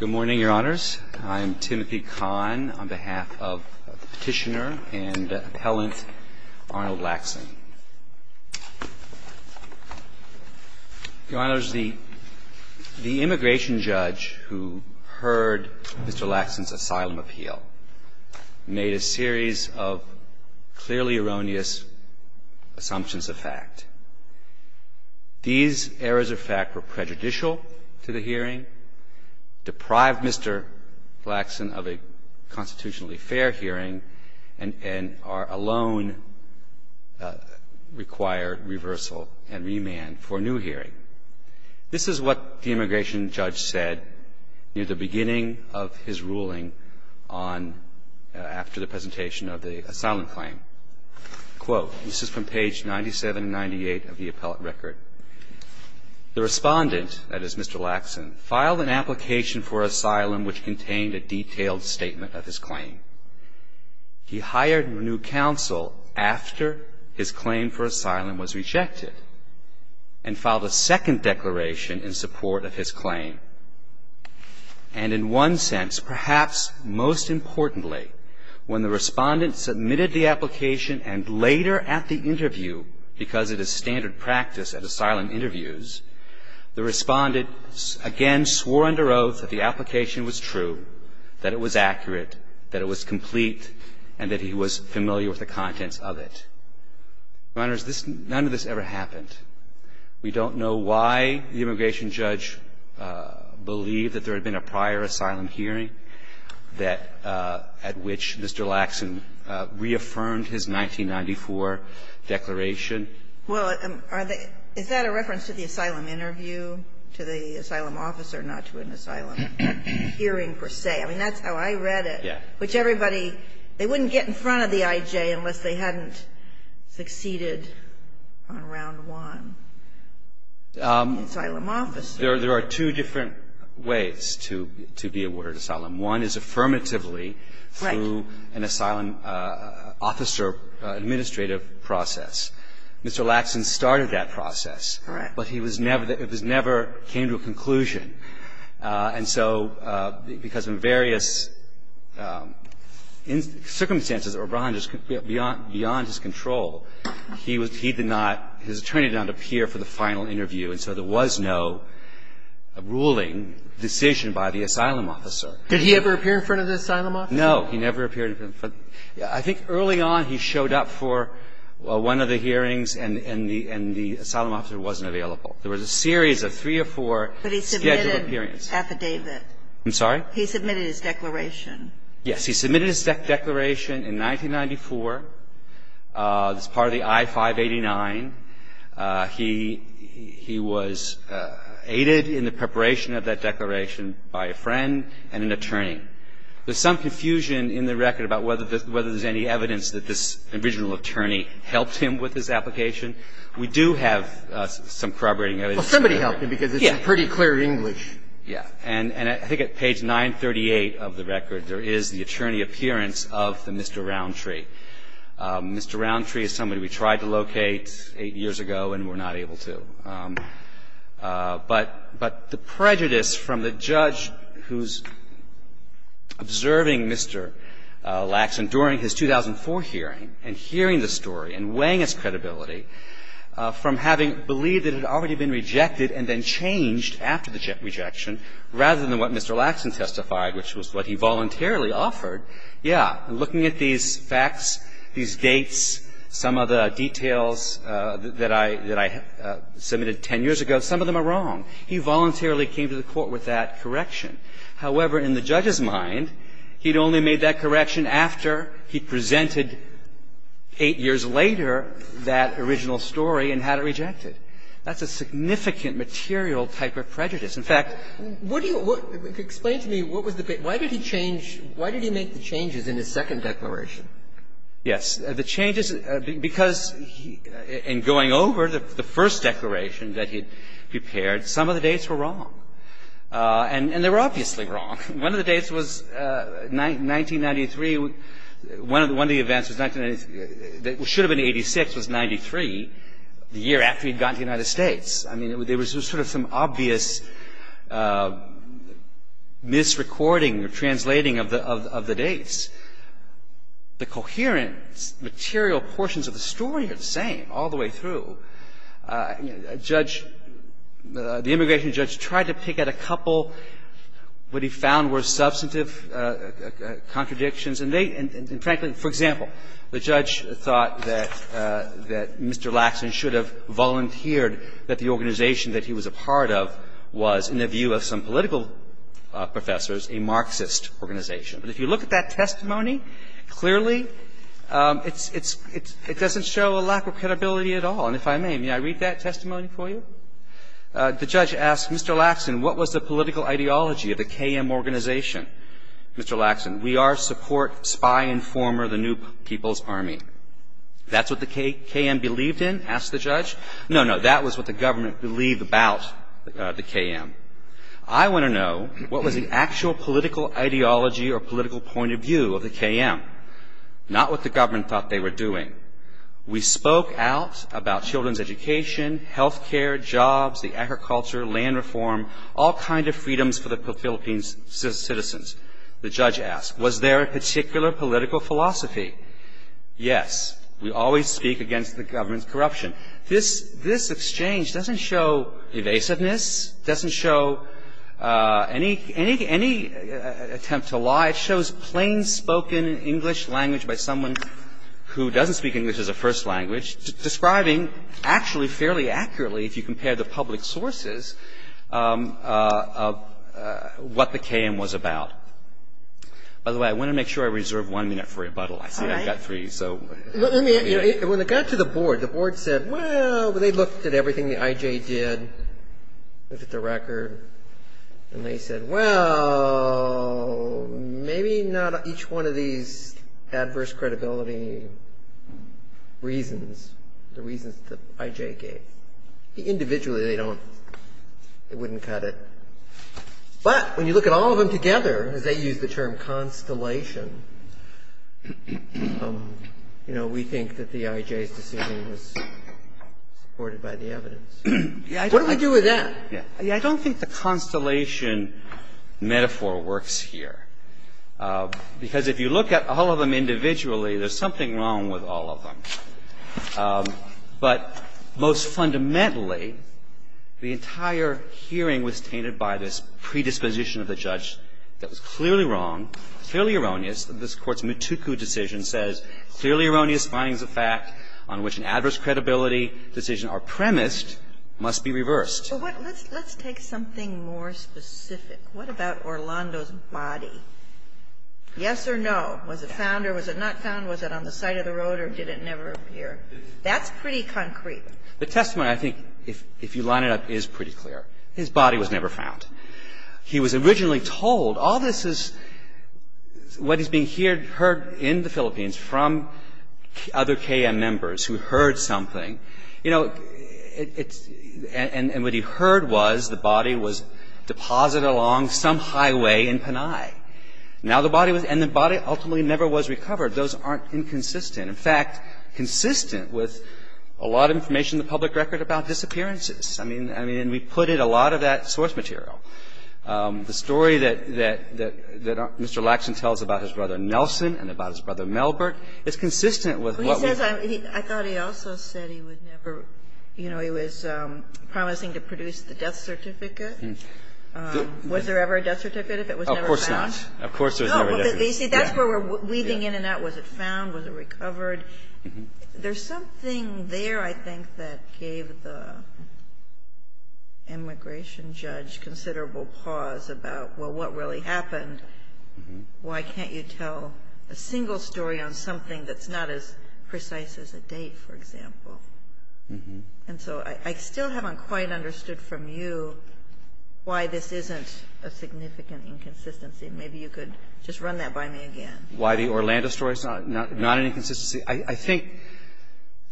Good morning, Your Honors. I am Timothy Kahn on behalf of Petitioner and Appellant Arnold Laxson. Your Honors, the immigration judge who heard Mr. Laxson's asylum appeal made a series of clearly erroneous assumptions of fact. These errors of fact were prejudicial to the hearing, deprived Mr. Laxson of a constitutionally fair hearing, and alone required reversal and remand for a new hearing. This is what the immigration judge said near the beginning of his ruling after the presentation of the asylum claim. Quote, this is from page 97 and 98 of the appellate record. The respondent, that is Mr. Laxson, filed an application for asylum which contained a detailed statement of his claim. He hired a new counsel after his claim for asylum was rejected and filed a second declaration in support of his claim. And in one sense, perhaps most importantly, when the respondent submitted the application and later at the interview, because it is standard practice at asylum interviews, the respondent again swore under oath that the application was true, that it was accurate, that it was complete, and that he was familiar with the contents of it. Your Honors, none of this ever happened. We don't know why the immigration judge believed that there had been a prior asylum hearing that at which Mr. Laxson reaffirmed his 1994 declaration. Well, is that a reference to the asylum interview, to the asylum officer, not to an asylum hearing per se? I mean, that's how I read it. Which everybody, they wouldn't get in front of the I.J. unless they hadn't succeeded on round one. Asylum officer. There are two different ways to be awarded asylum. One is affirmatively through an asylum officer administrative process. Mr. Laxson started that process. Correct. But he was never, it was never, came to a conclusion. And so because of various circumstances, or beyond his control, he did not, his attorney did not appear for the final interview, and so there was no ruling, decision by the asylum officer. Did he ever appear in front of the asylum officer? No. He never appeared in front. I think early on he showed up for one of the hearings and the asylum officer wasn't available. There was a series of three or four scheduled hearings. But he submitted an affidavit. I'm sorry? He submitted his declaration. Yes. He submitted his declaration in 1994 as part of the I-589. He was aided in the preparation of that declaration by a friend and an attorney. There's some confusion in the record about whether there's any evidence that this original attorney helped him with his application. We do have some corroborating evidence. Well, somebody helped him because it's in pretty clear English. Yes. And I think at page 938 of the record there is the attorney appearance of the Mr. Roundtree. Mr. Roundtree is somebody we tried to locate eight years ago and were not able to. But the prejudice from the judge who's observing Mr. Lackson during his 2004 hearing and hearing the story and weighing his credibility from having believed that it had already been rejected and then changed after the rejection rather than what Mr. Lackson testified, which was what he voluntarily offered, yeah, looking at these facts, these dates, some of the details that I submitted 10 years ago, some of them are wrong. He voluntarily came to the court with that correction. However, in the judge's mind, he'd only made that correction after he presented eight years later that original story and had it rejected. That's a significant material type of prejudice. In fact, what do you – explain to me what was the – why did he change – why did he make the changes in his second declaration? Yes. The changes – because in going over the first declaration that he'd prepared, some of the dates were wrong. And they were obviously wrong. One of the dates was 1993. One of the events was – should have been in 86, was 93, the year after he'd gotten to the United States. I mean, there was sort of some obvious misrecording or translating of the dates. The coherence, material portions of the story are the same all the way through. The immigration judge tried to pick out a couple. What he found were substantive contradictions. And they – and, frankly, for example, the judge thought that Mr. Laxman should have volunteered that the organization that he was a part of was, in the view of some political professors, a Marxist organization. But if you look at that testimony clearly, it's – it doesn't show a lack of credibility at all. And if I may, may I read that testimony for you? The judge asked Mr. Laxman, what was the political ideology of the KM organization? Mr. Laxman, we are support, spy, informer, the new people's army. That's what the KM believed in, asked the judge. No, no, that was what the government believed about the KM. I want to know what was the actual political ideology or political point of view of the KM, not what the government thought they were doing. We spoke out about children's education, health care, jobs, the agriculture, land reform, all kind of freedoms for the Philippines' citizens, the judge asked. Was there a particular political philosophy? Yes. We always speak against the government's corruption. This exchange doesn't show evasiveness, doesn't show any attempt to lie. It shows plain-spoken English language by someone who doesn't speak English as a first language, describing actually fairly accurately, if you compare the public sources, what the KM was about. By the way, I want to make sure I reserve one minute for rebuttal. All right. I see I've got three, so. Let me – when it got to the board, the board said, well, they looked at everything the Maybe not each one of these adverse credibility reasons, the reasons that I.J. gave. Individually, they don't – they wouldn't cut it. But when you look at all of them together, as they use the term constellation, you know, we think that the I.J.'s decision was supported by the evidence. What do we do with that? Yeah. I don't think the constellation metaphor works here, because if you look at all of them individually, there's something wrong with all of them. But most fundamentally, the entire hearing was tainted by this predisposition of the judge that was clearly wrong, clearly erroneous. This Court's Mutuku decision says clearly erroneous findings of fact on which an adverse credibility decision are premised must be reversed. But what – let's take something more specific. What about Orlando's body? Yes or no? Was it found or was it not found? Was it on the side of the road or did it never appear? That's pretty concrete. The testimony, I think, if you line it up, is pretty clear. His body was never found. He was originally told – all this is what is being heard in the Philippines from other KM members who heard something. You know, it's – and what he heard was the body was deposited along some highway in Panay. Now the body was – and the body ultimately never was recovered. Those aren't inconsistent. In fact, consistent with a lot of information in the public record about disappearances. I mean, we put in a lot of that source material. The story that Mr. Lackson tells about his brother Nelson and about his brother Melbourne is consistent with what we – He would never – you know, he was promising to produce the death certificate. Was there ever a death certificate if it was never found? Of course not. Of course there was never a death certificate. No, but you see, that's where we're weaving in and out. Was it found? Was it recovered? There's something there, I think, that gave the immigration judge considerable pause about, well, what really happened? Why can't you tell a single story on something that's not as precise as a date, for example? And so I still haven't quite understood from you why this isn't a significant inconsistency. Maybe you could just run that by me again. Why the Orlando story is not an inconsistency. I think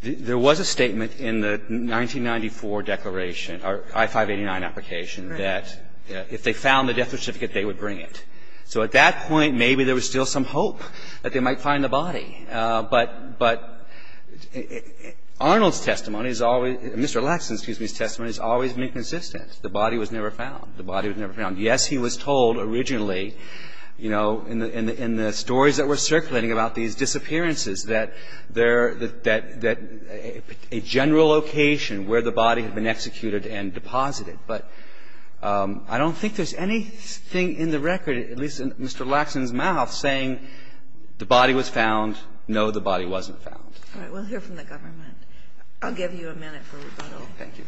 there was a statement in the 1994 declaration, our I-589 application, that if they found the death certificate, they would bring it. So at that point, maybe there was still some hope that they might find the body. But Arnold's testimony is always – Mr. Lackson's, excuse me, testimony has always been consistent. The body was never found. The body was never found. Yes, he was told originally, you know, in the stories that were circulating about these disappearances, that there – that a general location where the body had been executed and deposited. But I don't think there's anything in the record, at least in Mr. Lackson's mouth, saying the body was found, no, the body wasn't found. All right. We'll hear from the government. I'll give you a minute for rebuttal. Thank you.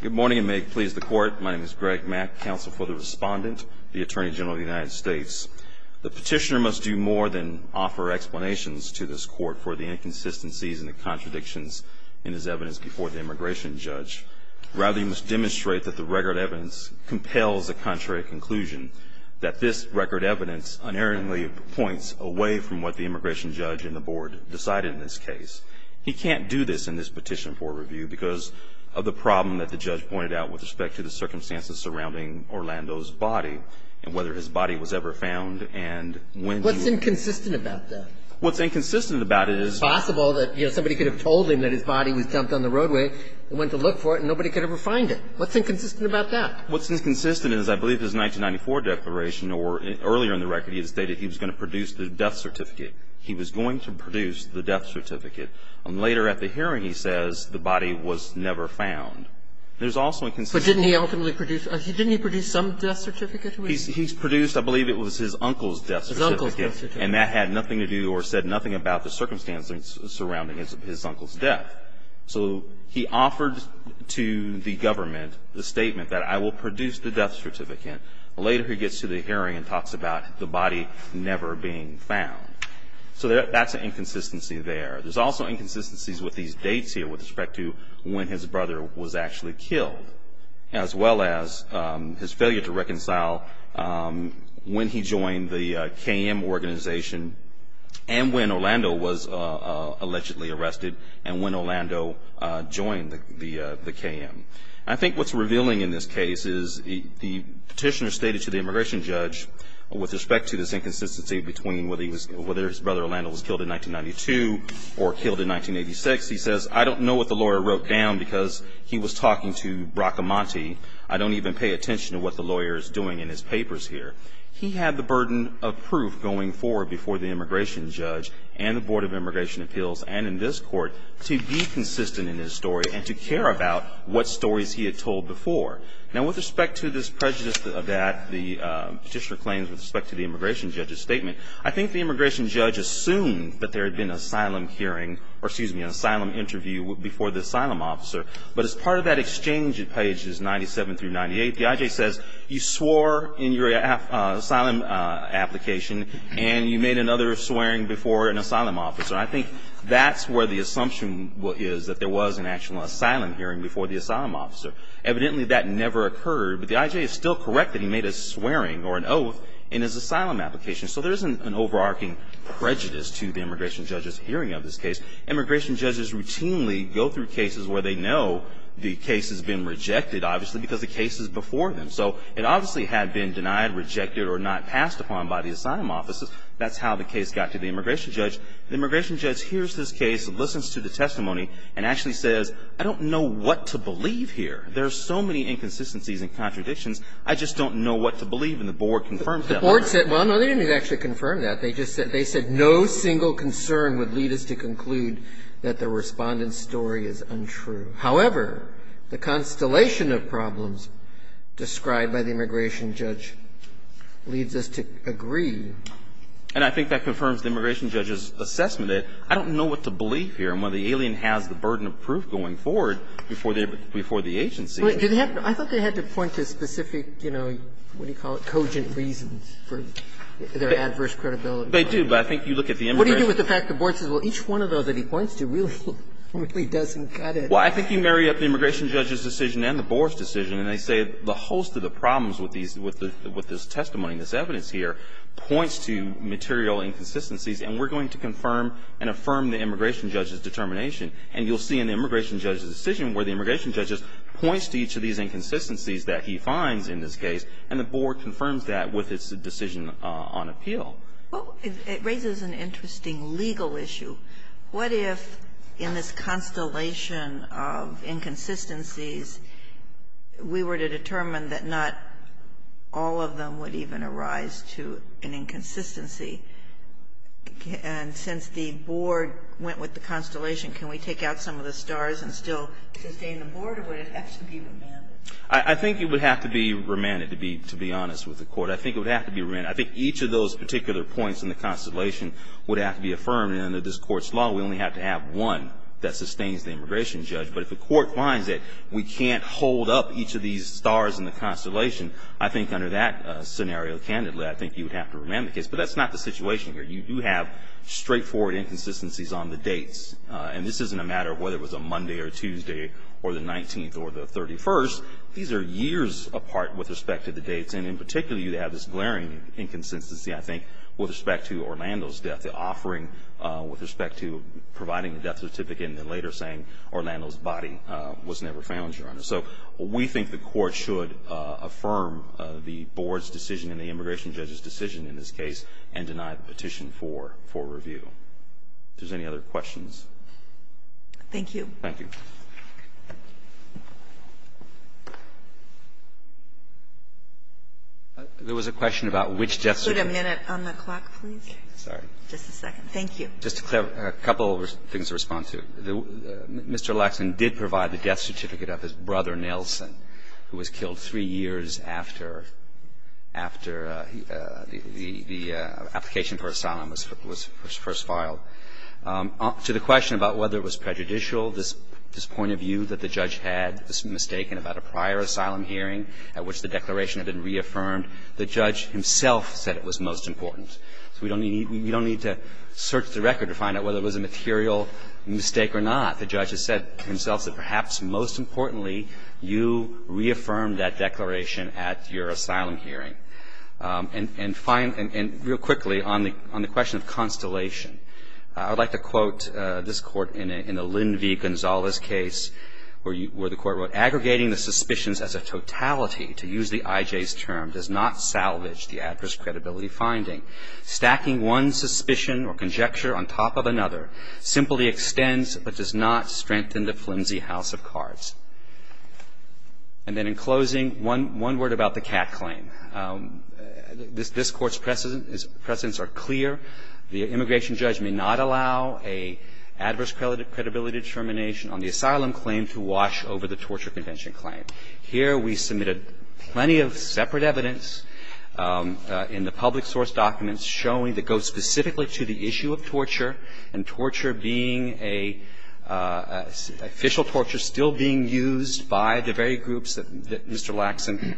Good morning, and may it please the Court. My name is Greg Mack, counsel for the Respondent, the Attorney General of the United States. The petitioner must do more than offer explanations to this Court for the inconsistencies and the contradictions in his evidence before the immigration judge. Rather, he must demonstrate that the record evidence compels a contrary conclusion, that this record evidence unerringly points away from what the immigration judge and the Board decided in this case. He can't do this in this petition for review because of the problem that the judge pointed out with respect to the circumstances surrounding Orlando's body and whether his body was ever found and when. What's inconsistent about that? What's inconsistent about it is. It's possible that, you know, somebody could have told him that his body was dumped on the roadway and went to look for it and nobody could ever find it. What's inconsistent about that? What's inconsistent is I believe his 1994 declaration or earlier in the record he had stated he was going to produce the death certificate. He was going to produce the death certificate. Later at the hearing he says the body was never found. There's also inconsistency. But didn't he ultimately produce, didn't he produce some death certificate? He's produced, I believe it was his uncle's death certificate. His uncle's death certificate. And that had nothing to do or said nothing about the circumstances surrounding his uncle's death. So he offered to the government the statement that I will produce the death certificate. Later he gets to the hearing and talks about the body never being found. So that's an inconsistency there. There's also inconsistencies with these dates here with respect to when his brother was actually killed as well as his failure to reconcile when he joined the KM organization and when Orlando was allegedly arrested and when Orlando joined the KM. I think what's revealing in this case is the petitioner stated to the immigration judge with respect to this inconsistency between whether his brother Orlando was killed in 1992 or killed in 1986. He says, I don't know what the lawyer wrote down because he was talking to Bracamonte. I don't even pay attention to what the lawyer is doing in his papers here. He had the burden of proof going forward before the immigration judge and the Board of Immigration Appeals and in this court to be consistent in his story and to care about what stories he had told before. Now, with respect to this prejudice of that, the petitioner claims with respect to the immigration judge's statement, I think the immigration judge assumed that there had been an asylum hearing or, excuse me, an asylum interview before the asylum officer. But as part of that exchange at pages 97 through 98, the I.J. says, you swore in your asylum application and you made another swearing before an asylum officer. I think that's where the assumption is that there was an actual asylum hearing before the asylum officer. Evidently that never occurred, but the I.J. is still correct that he made a swearing or an oath in his asylum application. So there isn't an overarching prejudice to the immigration judge's hearing of this case. Immigration judges routinely go through cases where they know the case has been rejected, obviously, because the case is before them. So it obviously had been denied, rejected or not passed upon by the asylum officers. That's how the case got to the immigration judge. The immigration judge hears this case and listens to the testimony and actually says, I don't know what to believe here. There are so many inconsistencies and contradictions. I just don't know what to believe. And the board confirms that. The board said, well, no, they didn't actually confirm that. They just said no single concern would lead us to conclude that the Respondent's story is untrue. However, the constellation of problems described by the immigration judge leads us to agree. And I think that confirms the immigration judge's assessment. I don't know what to believe here. And whether the alien has the burden of proof going forward before the agency. I thought they had to point to specific, you know, what do you call it, cogent reasons for their adverse credibility. They do, but I think you look at the immigration judge. What do you do with the fact the board says, well, each one of those that he points to really, really doesn't cut it? Well, I think you marry up the immigration judge's decision and the board's decision, and they say the host of the problems with these, with this testimony and this evidence here points to material inconsistencies, and we're going to confirm and affirm the immigration judge's determination. And you'll see in the immigration judge's decision where the immigration judge just points to each of these inconsistencies that he finds in this case, and the board confirms that with its decision on appeal. Well, it raises an interesting legal issue. What if in this constellation of inconsistencies we were to determine that not all of them would even arise to an inconsistency? And since the board went with the constellation, can we take out some of the stars and still sustain the board, or would it have to be remanded? I think it would have to be remanded, to be honest with the Court. I think it would have to be remanded. I think each of those particular points in the constellation would have to be affirmed. And under this Court's law, we only have to have one that sustains the immigration judge. But if the Court finds that we can't hold up each of these stars in the constellation, I think under that scenario, candidly, I think you would have to remand the case. But that's not the situation here. You do have straightforward inconsistencies on the dates. And this isn't a matter of whether it was a Monday or Tuesday or the 19th or the 31st. These are years apart with respect to the dates. And in particular, you have this glaring inconsistency, I think, with respect to Orlando's death, the offering with respect to providing the death certificate and then later saying Orlando's body was never found, Your Honor. So we think the Court should affirm the board's decision and the immigration judge's case and deny the petition for review. If there's any other questions. Thank you. Thank you. There was a question about which death certificate. Could you put a minute on the clock, please? Sorry. Just a second. Thank you. Just a couple of things to respond to. Mr. Lackson did provide the death certificate of his brother, Nelson, who was killed three years after the application for asylum was first filed. To the question about whether it was prejudicial, this point of view that the judge had was mistaken about a prior asylum hearing at which the declaration had been reaffirmed. The judge himself said it was most important. So we don't need to search the record to find out whether it was a material mistake or not. The judge has said to himself that perhaps most importantly, you reaffirmed that declaration at your asylum hearing. And real quickly, on the question of constellation, I would like to quote this Court in a Lynn v. Gonzales case where the Court wrote, Aggregating the suspicions as a totality, to use the IJ's term, does not salvage the adverse credibility finding. Stacking one suspicion or conjecture on top of another simply extends but does not strengthen the flimsy house of cards. And then in closing, one word about the Catt claim. This Court's precedents are clear. The immigration judge may not allow an adverse credibility determination on the asylum claim to wash over the torture convention claim. Here we submitted plenty of separate evidence in the public source documents showing that goes specifically to the issue of torture, and torture being a – official torture still being used by the very groups that Mr. Lackson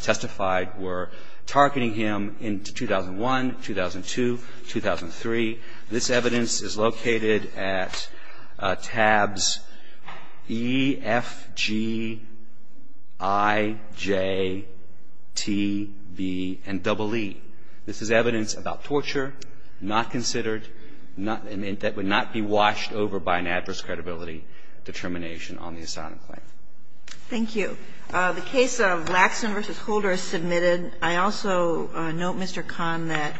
testified were targeting him in 2001, 2002, 2003. This evidence is located at tabs E, F, G, I, J, T, B, and EE. This is evidence about torture not considered, not – that would not be washed over by an adverse credibility determination on the asylum claim. Thank you. The case of Lackson v. Holder is submitted. And I also note, Mr. Kahn, that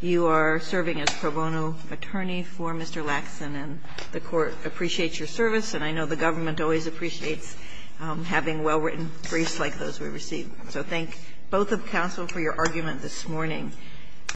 you are serving as pro bono attorney for Mr. Lackson, and the Court appreciates your service, and I know the government always appreciates having well-written briefs like those we receive. So thank both of counsel for your argument this morning.